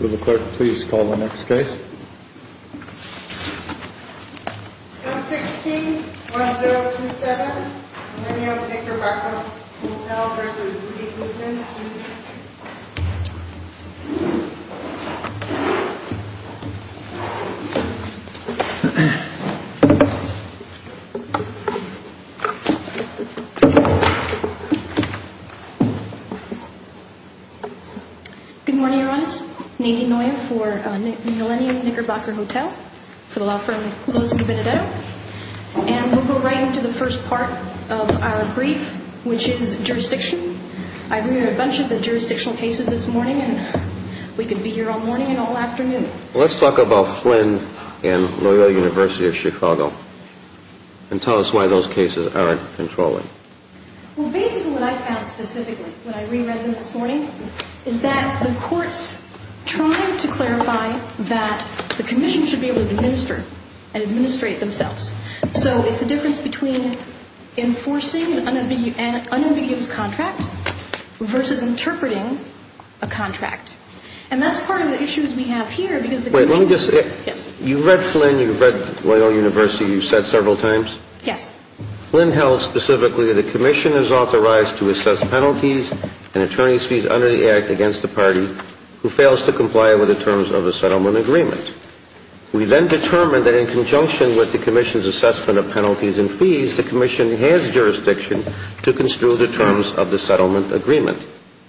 Will the clerk please call the next case? 116-1027 Millenium Knickerbocker Hotel v. Woody Guzman Good morning, everyone. Nadine Neuer for Millenium Knickerbocker Hotel, for the law firm Lewis & Benedetto. And we'll go right into the first part of our brief, which is jurisdiction. I've read a bunch of the jurisdictional cases this morning, and we could be here all morning and all afternoon. Let's talk about Flynn and Loyola University of Chicago, and tell us why those cases aren't controlling. Well, basically what I found specifically when I reread them this morning is that the courts tried to clarify that the commission should be able to administer and administrate themselves. So it's a difference between enforcing an unambiguous contract versus interpreting a contract. And that's part of the issues we have here because the commission... Wait, let me just... Yes. You've read Flynn, you've read Loyola University, you've said several times... Yes. Flynn held specifically that the commission is authorized to assess penalties and attorney's fees under the Act against the party who fails to comply with the terms of the settlement agreement. We then determined that in conjunction with the commission's assessment of penalties and fees, the commission has jurisdiction to construe the terms of the settlement agreement.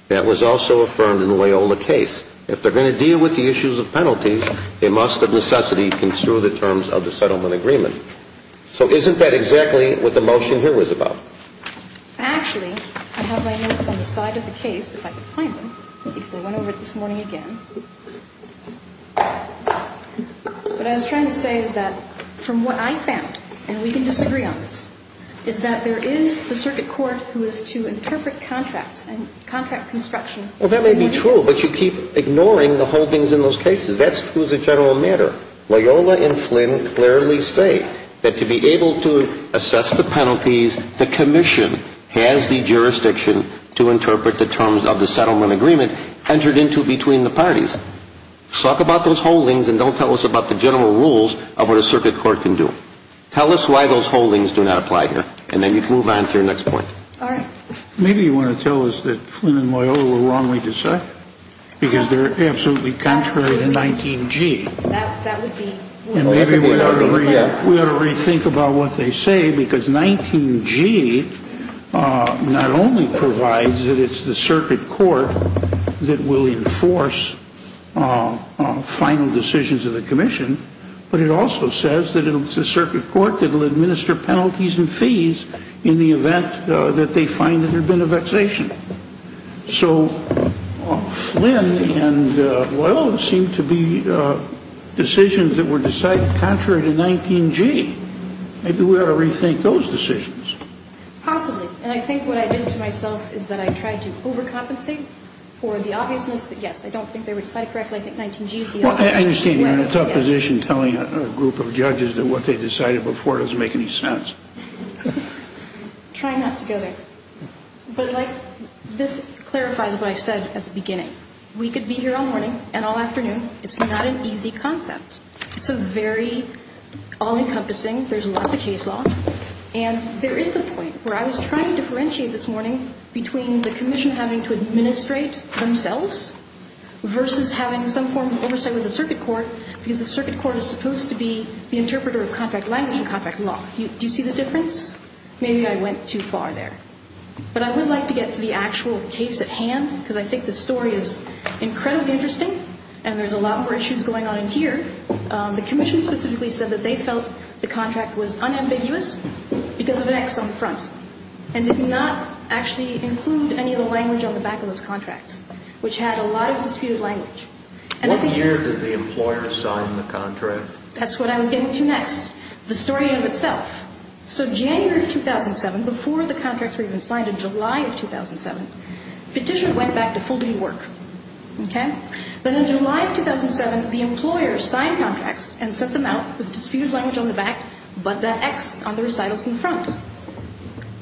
That was also affirmed in the Loyola case. If they're going to deal with the issues of penalties, they must, of necessity, construe the terms of the settlement agreement. So isn't that exactly what the motion here was about? Actually, I have my notes on the side of the case, if I could find them, because I went over it this morning again. What I was trying to say is that from what I found, and we can disagree on this, is that there is the circuit court who is to interpret contracts and contract construction... Well, that may be true, but you keep ignoring the holdings in those cases. That's true as a general matter. Loyola and Flynn clearly say that to be able to assess the penalties, the commission has the jurisdiction to interpret the terms of the settlement agreement entered into between the parties. Talk about those holdings and don't tell us about the general rules of what a circuit court can do. Tell us why those holdings do not apply here, and then you can move on to your next point. All right. Maybe you want to tell us that Flynn and Loyola were wrongly decided, because they're absolutely contrary to 19G. That would be... And maybe we ought to rethink about what they say, because 19G not only provides that it's the circuit court that will enforce final decisions of the commission, but it also says that it's the circuit court that will administer penalties and fees in the event that they find that there's been a vexation. So Flynn and Loyola seem to be decisions that were decided contrary to 19G. Maybe we ought to rethink those decisions. Possibly. And I think what I did to myself is that I tried to overcompensate for the obviousness that, yes, I don't think they were decided correctly. I think 19G is the obvious... Well, I understand you're in a tough position telling a group of judges that what they decided before doesn't make any sense. Try not to go there. But, like, this clarifies what I said at the beginning. We could be here all morning and all afternoon. It's not an easy concept. It's a very all-encompassing, there's lots of case law. And there is the point where I was trying to differentiate this morning between the commission having to administrate themselves versus having some form of oversight with the circuit court, because the circuit court is supposed to be the interpreter of contract language and contract law. Do you see the difference? Maybe I went too far there. But I would like to get to the actual case at hand, because I think the story is incredibly interesting, and there's a lot more issues going on in here. The commission specifically said that they felt the contract was unambiguous because of an X on the front and did not actually include any of the language on the back of those contracts, which had a lot of disputed language. What year did the employer sign the contract? That's what I was getting to next, the story in itself. So January of 2007, before the contracts were even signed in July of 2007, petitioner went back to full-day work. Okay? Then in July of 2007, the employer signed contracts and sent them out with disputed language on the back but that X on the recitals in the front.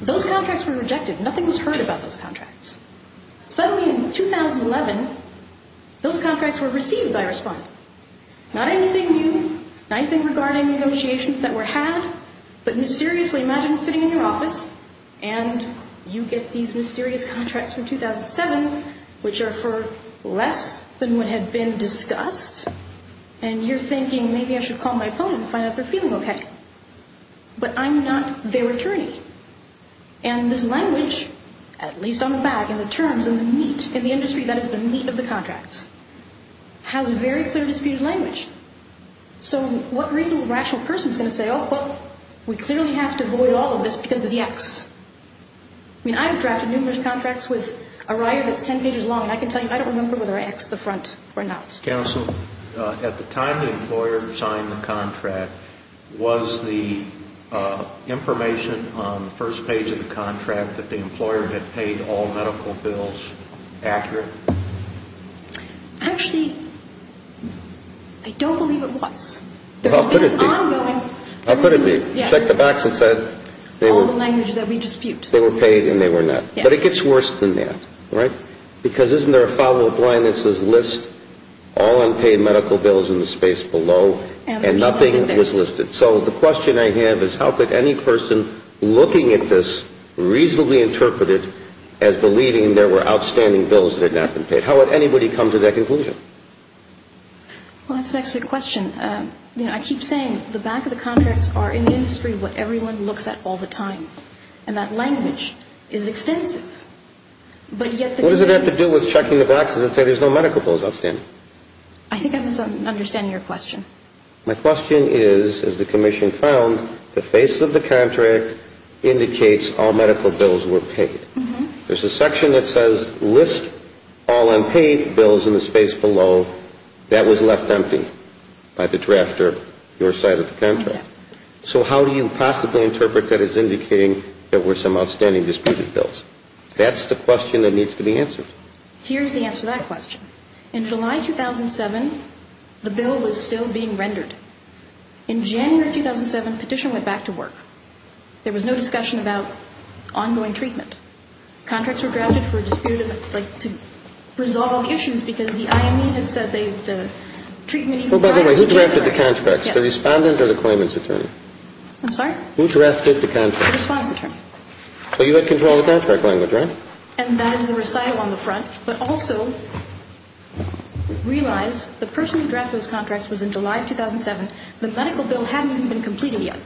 Those contracts were rejected. Nothing was heard about those contracts. Suddenly in 2011, those contracts were received by a respondent. Not anything new, nothing regarding negotiations that were had, but mysteriously. So imagine sitting in your office and you get these mysterious contracts from 2007, which are for less than what had been discussed, and you're thinking, maybe I should call my opponent and find out if they're feeling okay. But I'm not their attorney. And this language, at least on the back, in the terms, in the meat, in the industry, that is the meat of the contracts, has very clear disputed language. So what reasonable rational person is going to say, oh, well, we clearly have to avoid all of this because of the X? I mean, I've drafted numerous contracts with a writer that's 10 pages long, and I can tell you I don't remember whether I Xed the front or not. Counsel, at the time the employer signed the contract, was the information on the first page of the contract that the employer had paid all medical bills accurate? Actually, I don't believe it was. How could it be? I'm knowing. How could it be? Check the box that said they were. All the language that we dispute. They were paid and they were not. Yes. But it gets worse than that, right? Because isn't there a follow-up line that says list all unpaid medical bills in the space below and nothing was listed? So the question I have is how could any person looking at this reasonably interpret it as believing there were outstanding bills that had not been paid? How would anybody come to that conclusion? Well, that's an excellent question. You know, I keep saying the back of the contracts are in the industry what everyone looks at all the time, and that language is extensive. What does it have to do with checking the boxes that say there's no medical bills outstanding? I think I'm misunderstanding your question. My question is, as the commission found, the face of the contract indicates all medical bills were paid. There's a section that says list all unpaid bills in the space below. That was left empty by the drafter, your side of the contract. So how do you possibly interpret that as indicating there were some outstanding disputed bills? That's the question that needs to be answered. Here's the answer to that question. In July 2007, the bill was still being rendered. In January 2007, petition went back to work. There was no discussion about ongoing treatment. Contracts were drafted for a disputed, like, to resolve all the issues because the IME had said they, the treatment needed to rise. Well, by the way, who drafted the contracts? Yes. The Respondent or the Claimant's Attorney? I'm sorry? Who drafted the contracts? The Respondent's Attorney. So you had control of the contract language, right? And that is the recital on the front, but also realize the person who drafted those contracts was in July of 2007. The medical bill hadn't even been completed yet.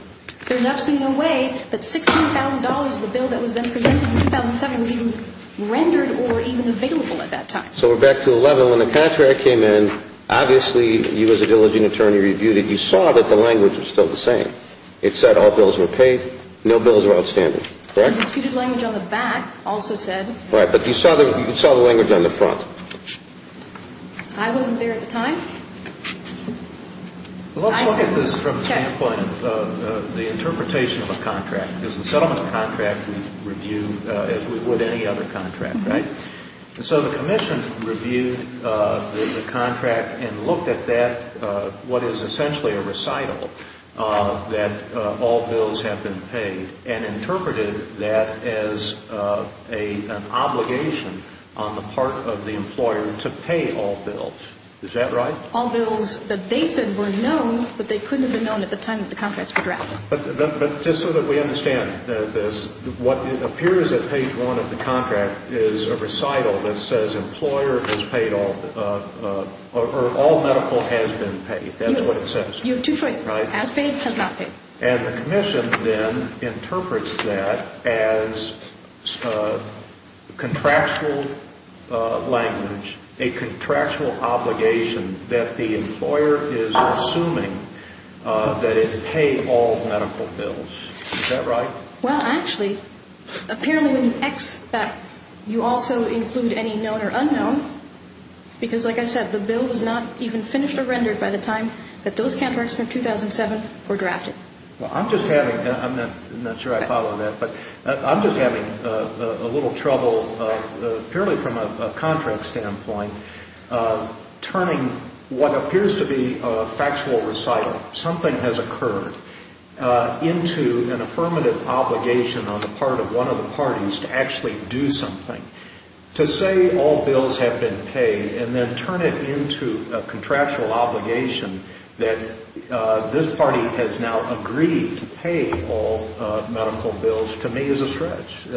There's absolutely no way that $16,000 of the bill that was then presented in 2007 was even rendered or even available at that time. So we're back to 11. When the contract came in, obviously you as a diligent attorney reviewed it. You saw that the language was still the same. It said all bills were paid, no bills were outstanding, correct? The disputed language on the back also said. Right, but you saw the language on the front. I wasn't there at the time. Let's look at this from the standpoint of the interpretation of a contract. Because the settlement contract we review as we would any other contract, right? So the Commission reviewed the contract and looked at that, what is essentially a recital, that all bills have been paid and interpreted that as an obligation on the part of the employer to pay all bills. Is that right? All bills that they said were known, but they couldn't have been known at the time that the contracts were drafted. But just so that we understand this, what appears at page one of the contract is a recital that says employer has paid all, or all medical has been paid. That's what it says. You have two choices, has paid, has not paid. And the Commission then interprets that as contractual language, a contractual obligation that the employer is assuming that it pay all medical bills. Is that right? Well, actually, apparently when you X that, you also include any known or unknown, because like I said, the bill was not even finished or rendered by the time that those contracts from 2007 were drafted. Well, I'm just having, I'm not sure I follow that, but I'm just having a little trouble, purely from a contract standpoint, turning what appears to be a factual recital, something has occurred, into an affirmative obligation on the part of one of the parties to actually do something. To say all bills have been paid and then turn it into a contractual obligation that this party has now agreed to pay all medical bills, to me is a stretch.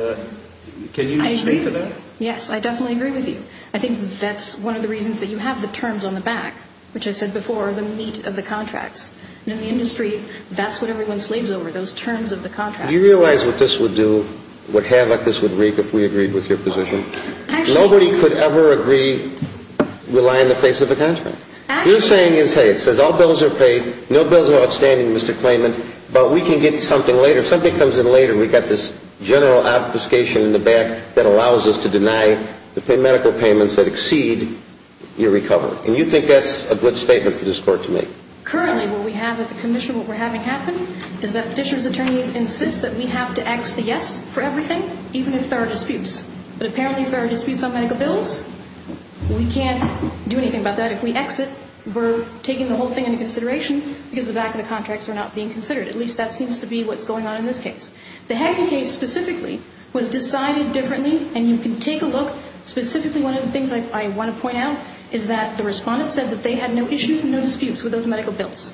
Can you speak to that? Yes, I definitely agree with you. I think that's one of the reasons that you have the terms on the back, which I said before, the meat of the contracts. In the industry, that's what everyone slaves over, those terms of the contracts. Now, do you realize what this would do, what havoc this would wreak if we agreed with your position? Nobody could ever agree, rely on the face of a contract. What you're saying is, hey, it says all bills are paid, no bills are outstanding, Mr. Clayman, but we can get something later. If something comes in later, we've got this general obfuscation in the back that allows us to deny the medical payments that exceed your recovery. And you think that's a good statement for this Court to make? Currently, what we have at the commission, what we're having happen is that petitioner's attorneys insist that we have to X the yes for everything, even if there are disputes. But apparently if there are disputes on medical bills, we can't do anything about that. If we X it, we're taking the whole thing into consideration because the back of the contracts are not being considered. At least that seems to be what's going on in this case. The Hagen case specifically was decided differently, and you can take a look. Specifically, one of the things I want to point out is that the respondent said that they had no issues and no disputes with those medical bills.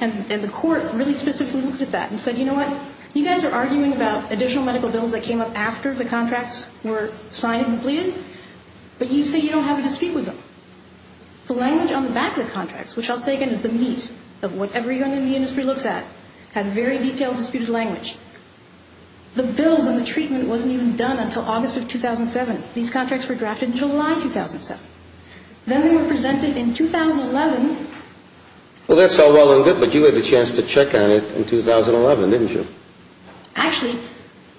And the Court really specifically looked at that and said, you know what, you guys are arguing about additional medical bills that came up after the contracts were signed and completed, but you say you don't have a dispute with them. The language on the back of the contracts, which I'll say again is the meat of what every young man in the industry looks at, had very detailed disputed language. The bills and the treatment wasn't even done until August of 2007. These contracts were drafted in July 2007. Then they were presented in 2011. Well, that's all well and good, but you had a chance to check on it in 2011, didn't you? Actually,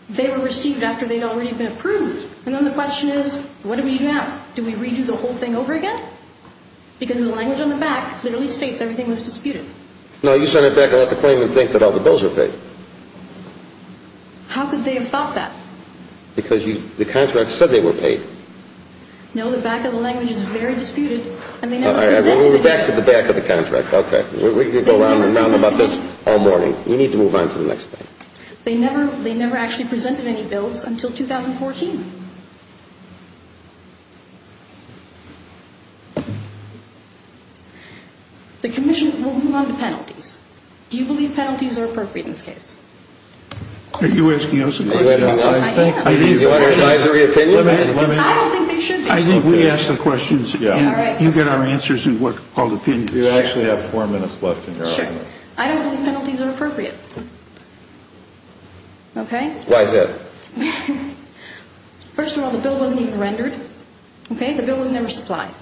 they were received after they'd already been approved. And then the question is, what do we do now? Do we redo the whole thing over again? Because the language on the back literally states everything was disputed. No, you sent it back and let the claimant think that all the bills were paid. How could they have thought that? Because the contract said they were paid. No, the back of the language is very disputed. All right, we'll go back to the back of the contract. Okay. We could go on and on about this all morning. We need to move on to the next thing. They never actually presented any bills until 2014. The commission will move on to penalties. Do you believe penalties are appropriate in this case? Are you asking us a question? Yes, I am. Do you want your advisory opinion? I don't think they should be. I think we ask the questions and you get our answers and what are called opinions. You actually have four minutes left in your audience. Sure. I don't believe penalties are appropriate. Okay? Why is that? First of all, the bill wasn't even rendered. Okay? The bill was never supplied.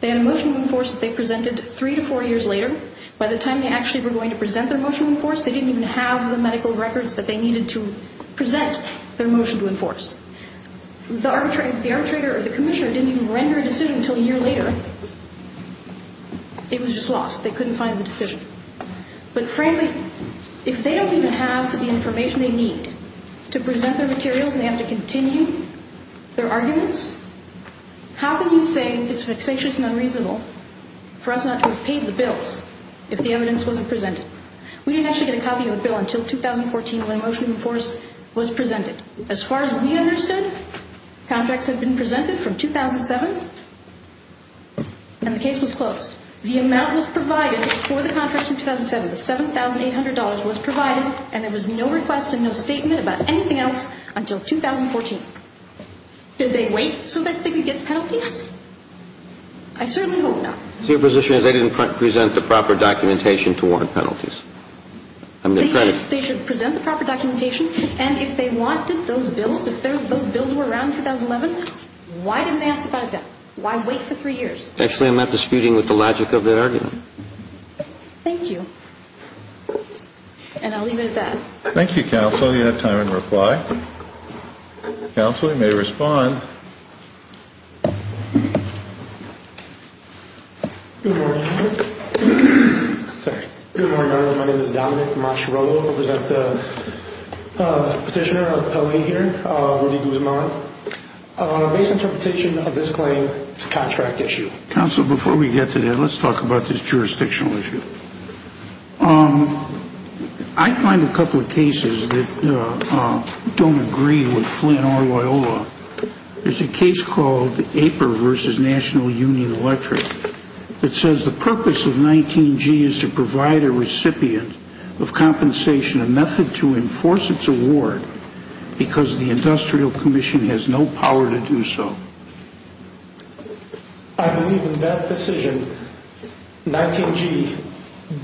They had a motion to enforce that they presented three to four years later. By the time they actually were going to present their motion to enforce, they didn't even have the medical records that they needed to present their motion to enforce. The arbitrator or the commissioner didn't even render a decision until a year later. It was just lost. They couldn't find the decision. But, frankly, if they don't even have the information they need to present their materials and they have to continue their arguments, how can you say it's vexatious and unreasonable for us not to have paid the bills if the evidence wasn't presented? We didn't actually get a copy of the bill until 2014 when a motion to enforce was presented. As far as we understood, contracts had been presented from 2007 and the case was closed. The amount was provided for the contracts from 2007, $7,800 was provided, and there was no request and no statement about anything else until 2014. Did they wait so that they could get penalties? I certainly hope not. So your position is they didn't present the proper documentation to warrant penalties? They should present the proper documentation, and if they wanted those bills, if those bills were around in 2011, why didn't they ask about it then? Why wait for three years? Actually, I'm not disputing with the logic of that argument. Thank you. And I'll leave it at that. Thank you, counsel. You have time in reply. Counsel, you may respond. Good morning. Sorry. Good morning, everyone. My name is Dominic Marcharolo. I represent the petitioner on the penalty here, Rudy Guzman. Based interpretation of this claim, it's a contract issue. Counsel, before we get to that, let's talk about this jurisdictional issue. I find a couple of cases that don't agree with Flynn-Orloyola. There's a case called APER versus National Union Electric that says the purpose of 19-G is to provide a recipient of compensation a method to enforce its award because the industrial commission has no power to do so. I believe in that decision, 19-G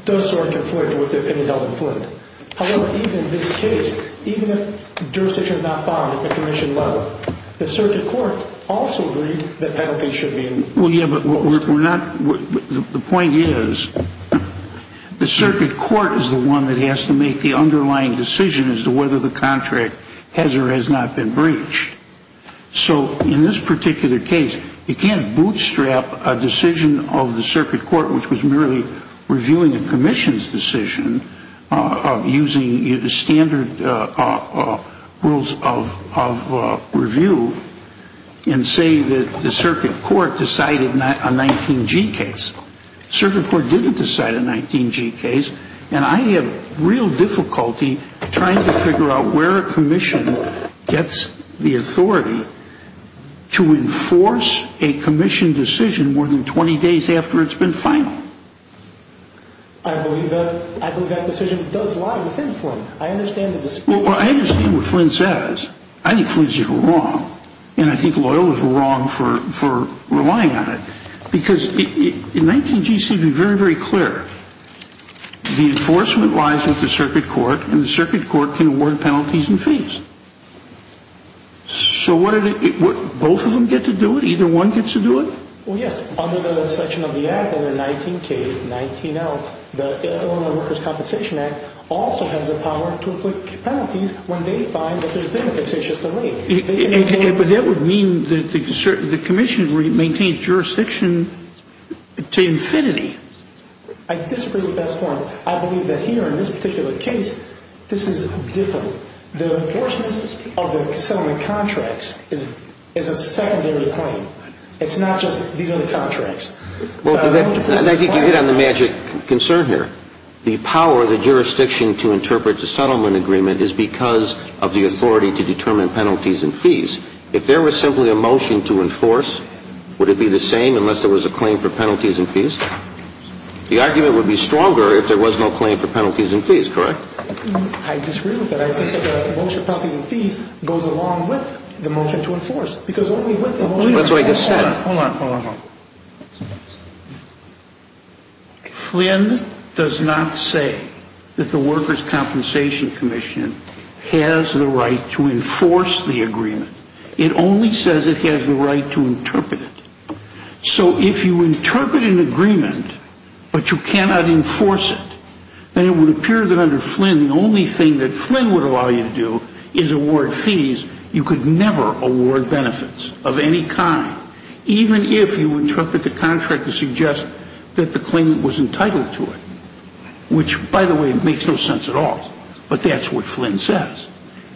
does sort of conflict with the penalty of Flynn-Orloyola. In this case, even if jurisdiction is not followed at the commission level, the circuit court also agreed that penalties should be enforced. Well, yeah, but the point is the circuit court is the one that has to make the underlying decision as to whether the contract has or has not been breached. So in this particular case, you can't bootstrap a decision of the circuit court, which was merely reviewing a commission's decision using the standard rules of review and say that the circuit court decided a 19-G case. Circuit court didn't decide a 19-G case, and I have real difficulty trying to figure out where a commission gets the authority to enforce a commission decision more than 20 days after it's been final. I believe that decision does lie within Flynn. I understand the dispute. Well, I understand what Flynn says. I think Flynn is wrong, and I think Loyola is wrong for relying on it because 19-G should be very, very clear. The enforcement lies with the circuit court, and the circuit court can award penalties and fees. So both of them get to do it? Either one gets to do it? Well, yes. Under the section of the Act, under 19-K, 19-L, the Loyola Workers' Compensation Act also has the power to inflict penalties when they find that there's been a facetious delay. But that would mean that the commission maintains jurisdiction to infinity. I disagree with that form. I believe that here in this particular case, this is different. The enforcement of the settlement contracts is a secondary claim. It's not just these are the contracts. And I think you hit on the magic concern here. The power of the jurisdiction to interpret the settlement agreement is because of the authority to determine penalties and fees. If there was simply a motion to enforce, would it be the same unless there was a claim for penalties and fees? The argument would be stronger if there was no claim for penalties and fees, correct? I disagree with that. I think that the motion for penalties and fees goes along with the motion to enforce. Because only with the motion to enforce. That's what I just said. Hold on, hold on, hold on. Flynn does not say that the Workers' Compensation Commission has the right to enforce the agreement. It only says it has the right to interpret it. So if you interpret an agreement but you cannot enforce it, then it would appear that under Flynn, the only thing that Flynn would allow you to do is award fees. You could never award benefits of any kind, even if you interpret the contract to suggest that the claimant was entitled to it, which, by the way, makes no sense at all. But that's what Flynn says.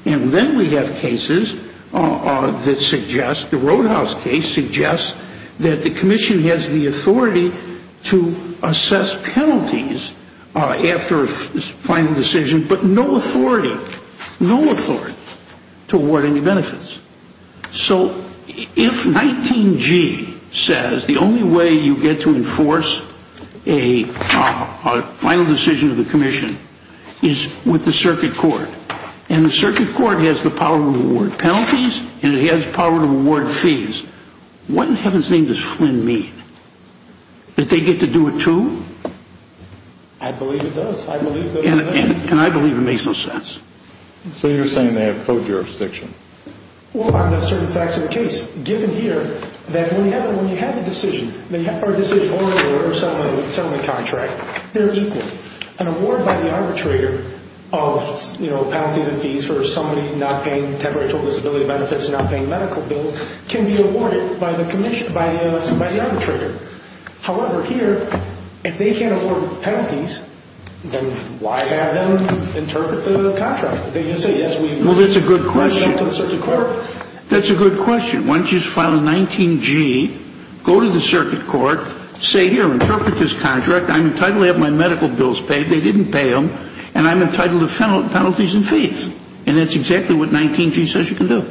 And then we have cases that suggest, the Roadhouse case suggests, that the commission has the authority to assess penalties after a final decision, but no authority, no authority to award any benefits. So if 19G says the only way you get to enforce a final decision of the commission is with the circuit court, and the circuit court has the power to award penalties and it has power to award fees, what in heaven's name does Flynn mean? That they get to do it too? I believe it does. I believe it does. And I believe it makes no sense. So you're saying they have co-jurisdiction. Well, on the certain facts of the case, given here that when you have a decision or a settlement contract, they're equal. An award by the arbitrator of penalties and fees for somebody not paying temporary total disability benefits and not paying medical bills can be awarded by the arbitrator. However, here, if they can't award penalties, then why have them interpret the contract? They can say, yes, we brought it up to the circuit court. Well, that's a good question. That's a good question. Why don't you just file a 19G, go to the circuit court, say, here, interpret this contract. I'm entitled to have my medical bills paid. They didn't pay them. And I'm entitled to penalties and fees. And that's exactly what 19G says you can do.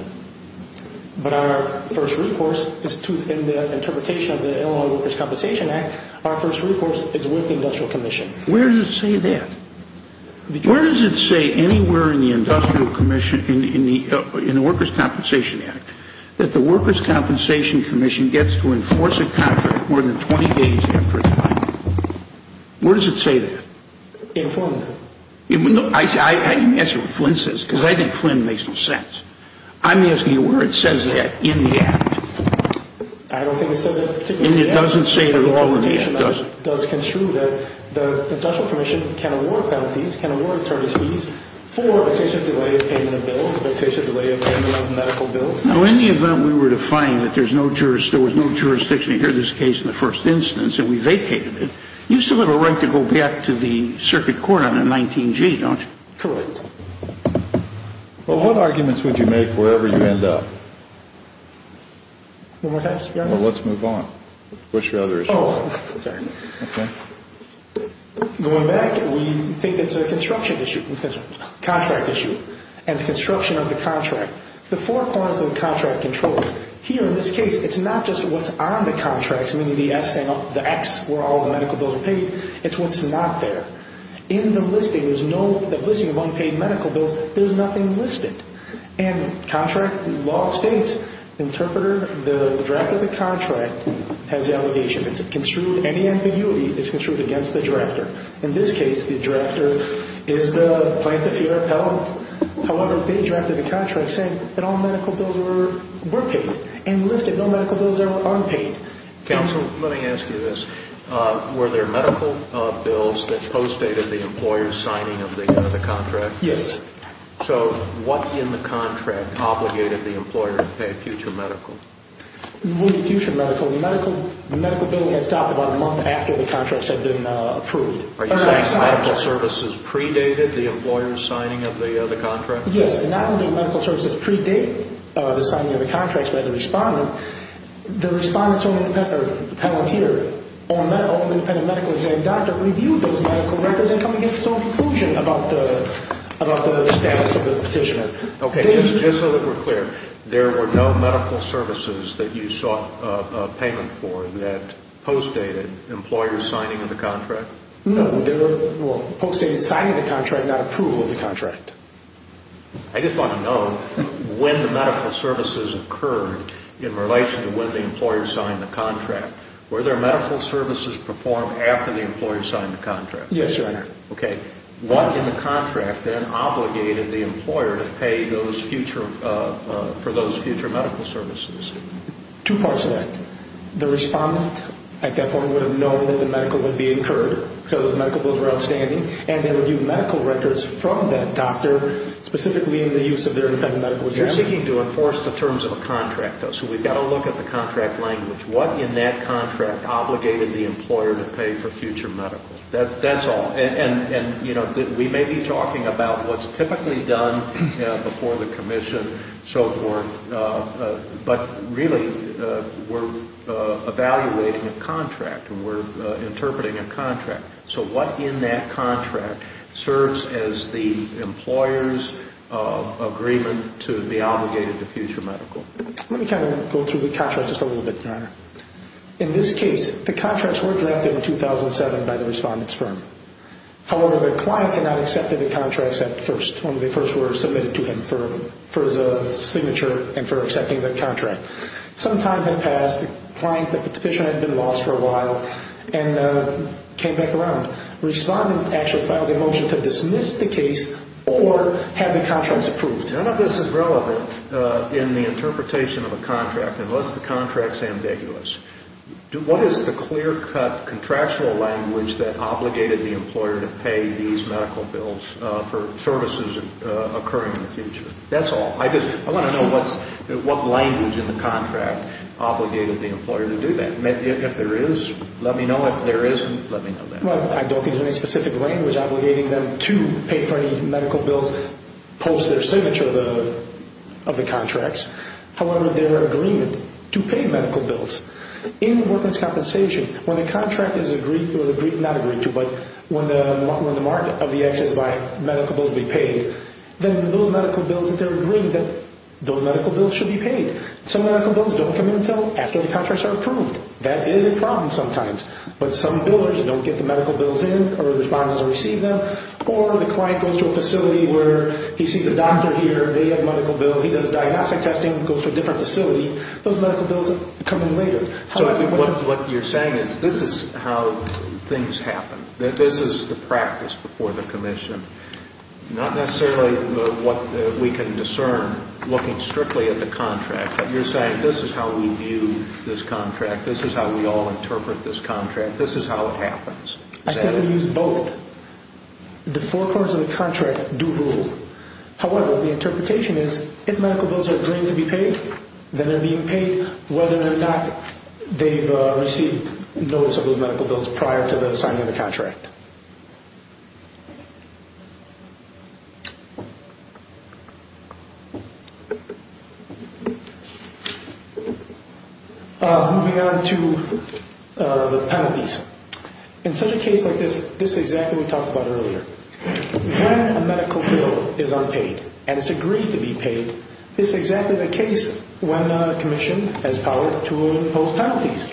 But our first recourse is to, in the interpretation of the Illinois Workers' Compensation Act, our first recourse is with the Industrial Commission. Where does it say that? Where does it say anywhere in the Industrial Commission, in the Workers' Compensation Act, that the Workers' Compensation Commission gets to enforce a contract more than 20 days after it's filed? Where does it say that? Informed. I didn't ask you what Flynn says, because I think Flynn makes no sense. I'm asking you where it says that in the act. I don't think it says it in particular. And it doesn't say it at all in the act, does it? It does construe that the Industrial Commission can award penalties, can award attorneys' fees, for a fixation delay of payment of bills, a fixation delay of payment of medical bills. Now, in the event we were to find that there was no jurisdiction to hear this case in the first instance and we vacated it, you still have a right to go back to the circuit court on the 19G, don't you? Correct. Well, what arguments would you make wherever you end up? One more time, Mr. Chairman? Well, let's move on. What's your other issue? Oh, sorry. Okay. Going back, we think it's a construction issue, a contract issue, and the construction of the contract. The four corners of the contract control, here in this case, it's not just what's on the contract, meaning the X where all the medical bills are paid, it's what's not there. In the listing, the listing of unpaid medical bills, there's nothing listed. And contract law states the interpreter, the drafter of the contract, has the allegation. It's construed, any ambiguity is construed against the drafter. In this case, the drafter is the plaintiff here appellant. However, they drafted a contract saying that all medical bills were paid and listed no medical bills are unpaid. Counsel, let me ask you this. Were there medical bills that postdated the employer's signing of the contract? Yes. So what in the contract obligated the employer to pay a future medical? When you say future medical, the medical bill gets dropped about a month after the contracts have been approved. Are you saying medical services predated the employer's signing of the contract? Yes, and not only medical services predate the signing of the contracts by the respondent, the respondent's own independent or the appellant here or an independent medical exam doctor reviewed those medical records and come to his own conclusion about the status of the petitioner. Okay, just so that we're clear, there were no medical services that you sought payment for that postdated the employer's signing of the contract? No, there were postdated signing of the contract, not approval of the contract. I just want to know when the medical services occurred in relation to when the employer signed the contract. Were there medical services performed after the employer signed the contract? Yes, Your Honor. Okay, what in the contract then obligated the employer to pay for those future medical services? Two parts to that. The respondent at that point would have known that the medical would be incurred because those medical bills were outstanding, and they would use medical records from that doctor specifically in the use of their independent medical exam. You're seeking to enforce the terms of a contract, though, so we've got to look at the contract language. What in that contract obligated the employer to pay for future medical? That's all. And, you know, we may be talking about what's typically done before the commission, so forth, but really we're evaluating a contract and we're interpreting a contract. So what in that contract serves as the employer's agreement to be obligated to future medical? Let me kind of go through the contract just a little bit, Your Honor. In this case, the contracts were drafted in 2007 by the respondent's firm. However, the client did not accept the contracts at first. When they first were submitted to him for his signature and for accepting the contract. Some time had passed. The client had been lost for a while and came back around. Respondent actually filed a motion to dismiss the case or have the contracts approved. None of this is relevant in the interpretation of a contract unless the contract is ambiguous. What is the clear-cut contractual language that obligated the employer to pay these medical bills for services occurring in the future? That's all. I want to know what language in the contract obligated the employer to do that. If there is, let me know. If there isn't, let me know that. I don't think there's any specific language obligating them to pay for any medical bills post their signature of the contracts. However, their agreement to pay medical bills. In workman's compensation, when the contract is agreed to, or not agreed to, but when the mark of the excess by medical bills be paid, then those medical bills that they're agreeing to, those medical bills should be paid. Some medical bills don't come in until after the contracts are approved. That is a problem sometimes. But some billers don't get the medical bills in or the respondents don't receive them. Or the client goes to a facility where he sees a doctor here. They have a medical bill. He does diagnostic testing, goes to a different facility. Those medical bills come in later. What you're saying is this is how things happen. This is the practice before the commission. Not necessarily what we can discern looking strictly at the contract, but you're saying this is how we view this contract. This is how we all interpret this contract. This is how it happens. I think we use both. The four corners of the contract do rule. However, the interpretation is if medical bills are agreed to be paid, then they're being paid, whether or not they've received notice of those medical bills prior to the signing of the contract. Moving on to the penalties. In such a case like this, this is exactly what we talked about earlier. When a medical bill is unpaid and it's agreed to be paid, this is exactly the case when a commission has power to impose penalties.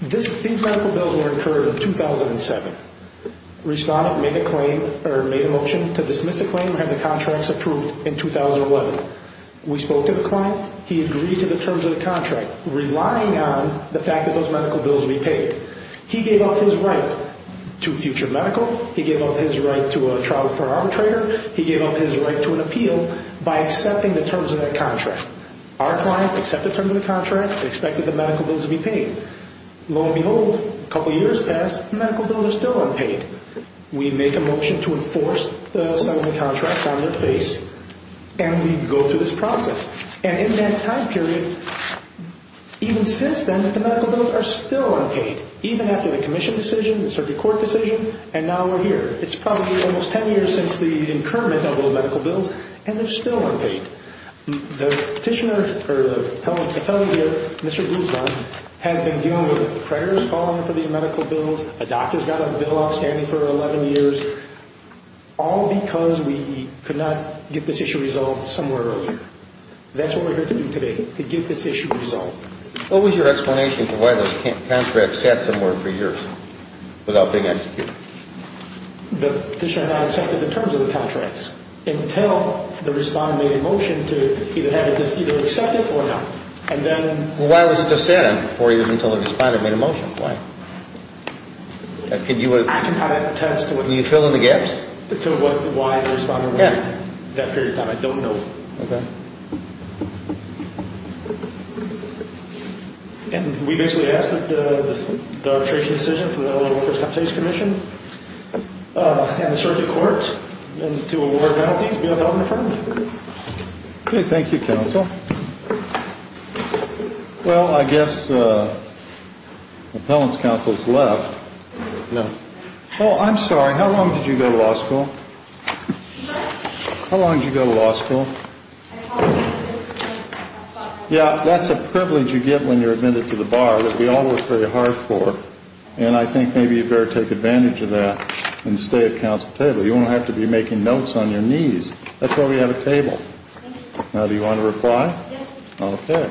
These medical bills were incurred in 2007. Respondent made a motion to dismiss the claim and have the contracts approved in 2011. We spoke to the client. He agreed to the terms of the contract, relying on the fact that those medical bills would be paid. He gave up his right to future medical. He gave up his right to a trial for arbitrator. He gave up his right to an appeal by accepting the terms of that contract. Our client accepted the terms of the contract and expected the medical bills to be paid. Lo and behold, a couple of years passed, the medical bills are still unpaid. We make a motion to enforce the signing of the contracts on their face, and we go through this process. And in that time period, even since then, the medical bills are still unpaid, even after the commission decision, the circuit court decision, and now we're here. It's probably almost ten years since the incurment of those medical bills, and they're still unpaid. The petitioner, or the appellee here, Mr. Guzman, has been dealing with prayers calling for these medical bills, a doctor's got a bill outstanding for 11 years, all because we could not get this issue resolved somewhere earlier. That's what we're here to do today, to get this issue resolved. What was your explanation for why those contracts sat somewhere for years without being executed? The petitioner had not accepted the terms of the contracts until the respondent made a motion to either accept it or not, and then Well, why was it just sat in for you until the respondent made a motion? Why? I can attest to it. Can you fill in the gaps? To why the respondent waited that period of time, I don't know. Okay. And we basically asked that the arbitration decision from the Illinois Welfare Compensation Commission and the circuit court to award penalties be adopted and affirmed. Okay, thank you, counsel. Well, I guess the appellant's counsel has left. No. Oh, I'm sorry. How long did you go to law school? How long did you go to law school? Yeah, that's a privilege you get when you're admitted to the bar that we all work very hard for. And I think maybe you'd better take advantage of that and stay at counsel's table. You won't have to be making notes on your knees. That's why we have a table. Now, do you want to reply? Okay.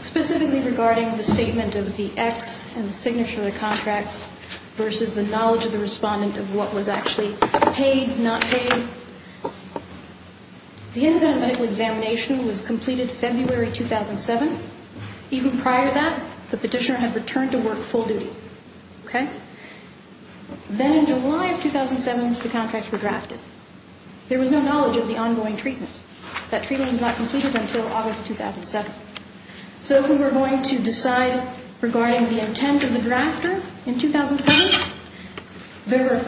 Specifically regarding the statement of the X and the signature of the contracts versus the knowledge of the respondent of what was actually paid, not paid, the independent medical examination was completed February 2007. Even prior to that, the petitioner had returned to work full duty. Okay? Then in July of 2007, the contracts were drafted. There was no knowledge of the ongoing treatment. That treatment was not completed until August 2007. So if we were going to decide regarding the intent of the drafter in 2007, there were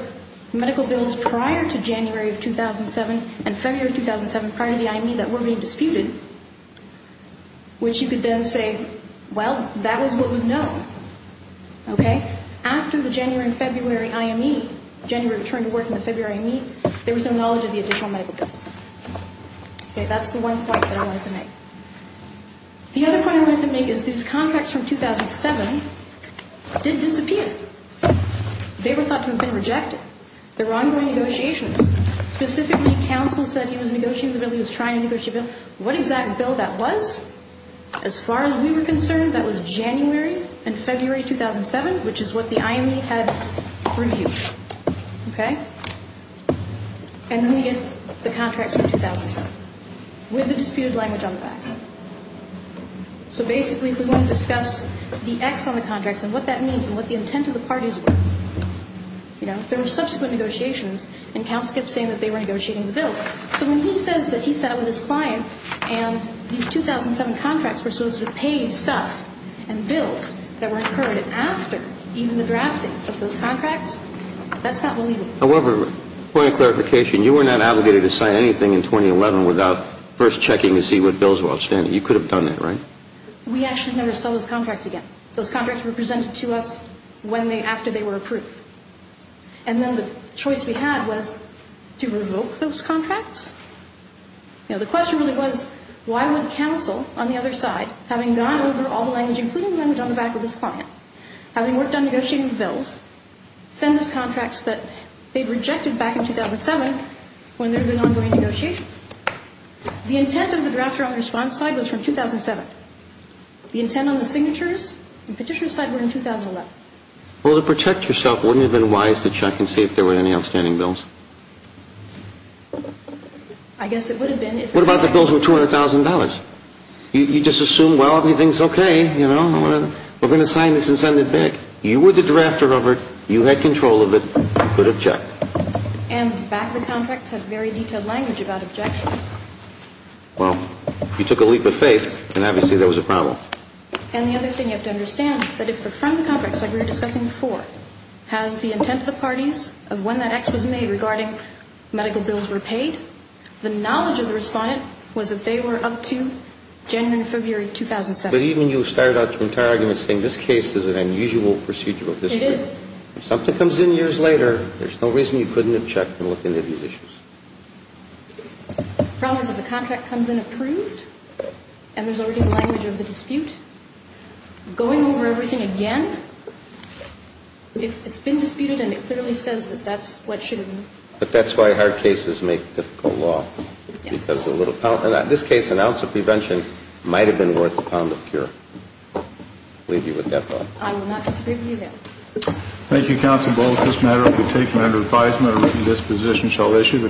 medical bills prior to January of 2007 and February of 2007 prior to the IME that were being disputed, which you could then say, well, that is what was known. Okay? After the January and February IME, January returned to work and the February IME, there was no knowledge of the additional medical bills. Okay? That's the one point that I wanted to make. The other point I wanted to make is these contracts from 2007 did disappear. They were thought to have been rejected. There were ongoing negotiations. Specifically, counsel said he was negotiating the bill. He was trying to negotiate the bill. What exact bill that was, as far as we were concerned, that was January and February 2007, which is what the IME had reviewed. Okay? And then we get the contracts from 2007 with the disputed language on the back. So basically, if we want to discuss the X on the contracts and what that means and what the intent of the parties were, you know, there were subsequent negotiations, and counsel kept saying that they were negotiating the bills. So when he says that he sat up with his client and these 2007 contracts were supposed to be paid stuff and bills that were incurred after even the drafting of those contracts, that's not believable. However, point of clarification, you were not obligated to sign anything in 2011 without first checking to see what bills were outstanding. You could have done that, right? We actually never saw those contracts again. Those contracts were presented to us after they were approved. And then the choice we had was to revoke those contracts. You know, the question really was why would counsel, on the other side, having gone over all the language, including the language on the back with his client, having worked on negotiating the bills, send us contracts that they'd rejected back in 2007 when there had been ongoing negotiations? The intent of the drafter on the response side was from 2007. The intent on the signatures and petitioners' side were in 2011. Well, to protect yourself, wouldn't it have been wise to check and see if there were any outstanding bills? I guess it would have been. What about the bills with $200,000? You just assume, well, everything's okay, you know. We're going to sign this and send it back. You were the drafter over it. You had control of it. You could object. And the back of the contracts had very detailed language about objections. Well, you took a leap of faith, and obviously there was a problem. And the other thing you have to understand, that if the front of the contracts, like we were discussing before, has the intent of the parties of when that act was made regarding medical bills were paid, the knowledge of the respondent was that they were up to January and February 2007. But even you started out the entire argument saying this case is an unusual procedural dispute. It is. If something comes in years later, there's no reason you couldn't have checked and looked into these issues. The problem is if a contract comes in approved, and there's already the language of the dispute, going over everything again, it's been disputed and it clearly says that that's what should have been. But that's why hard cases make difficult law. And this case, an ounce of prevention, might have been worth a pound of cure. I'll leave you with that thought. I will not disagree with you there. Thank you, Counsel. Both this matter will be taken under advisement. A written disposition shall issue.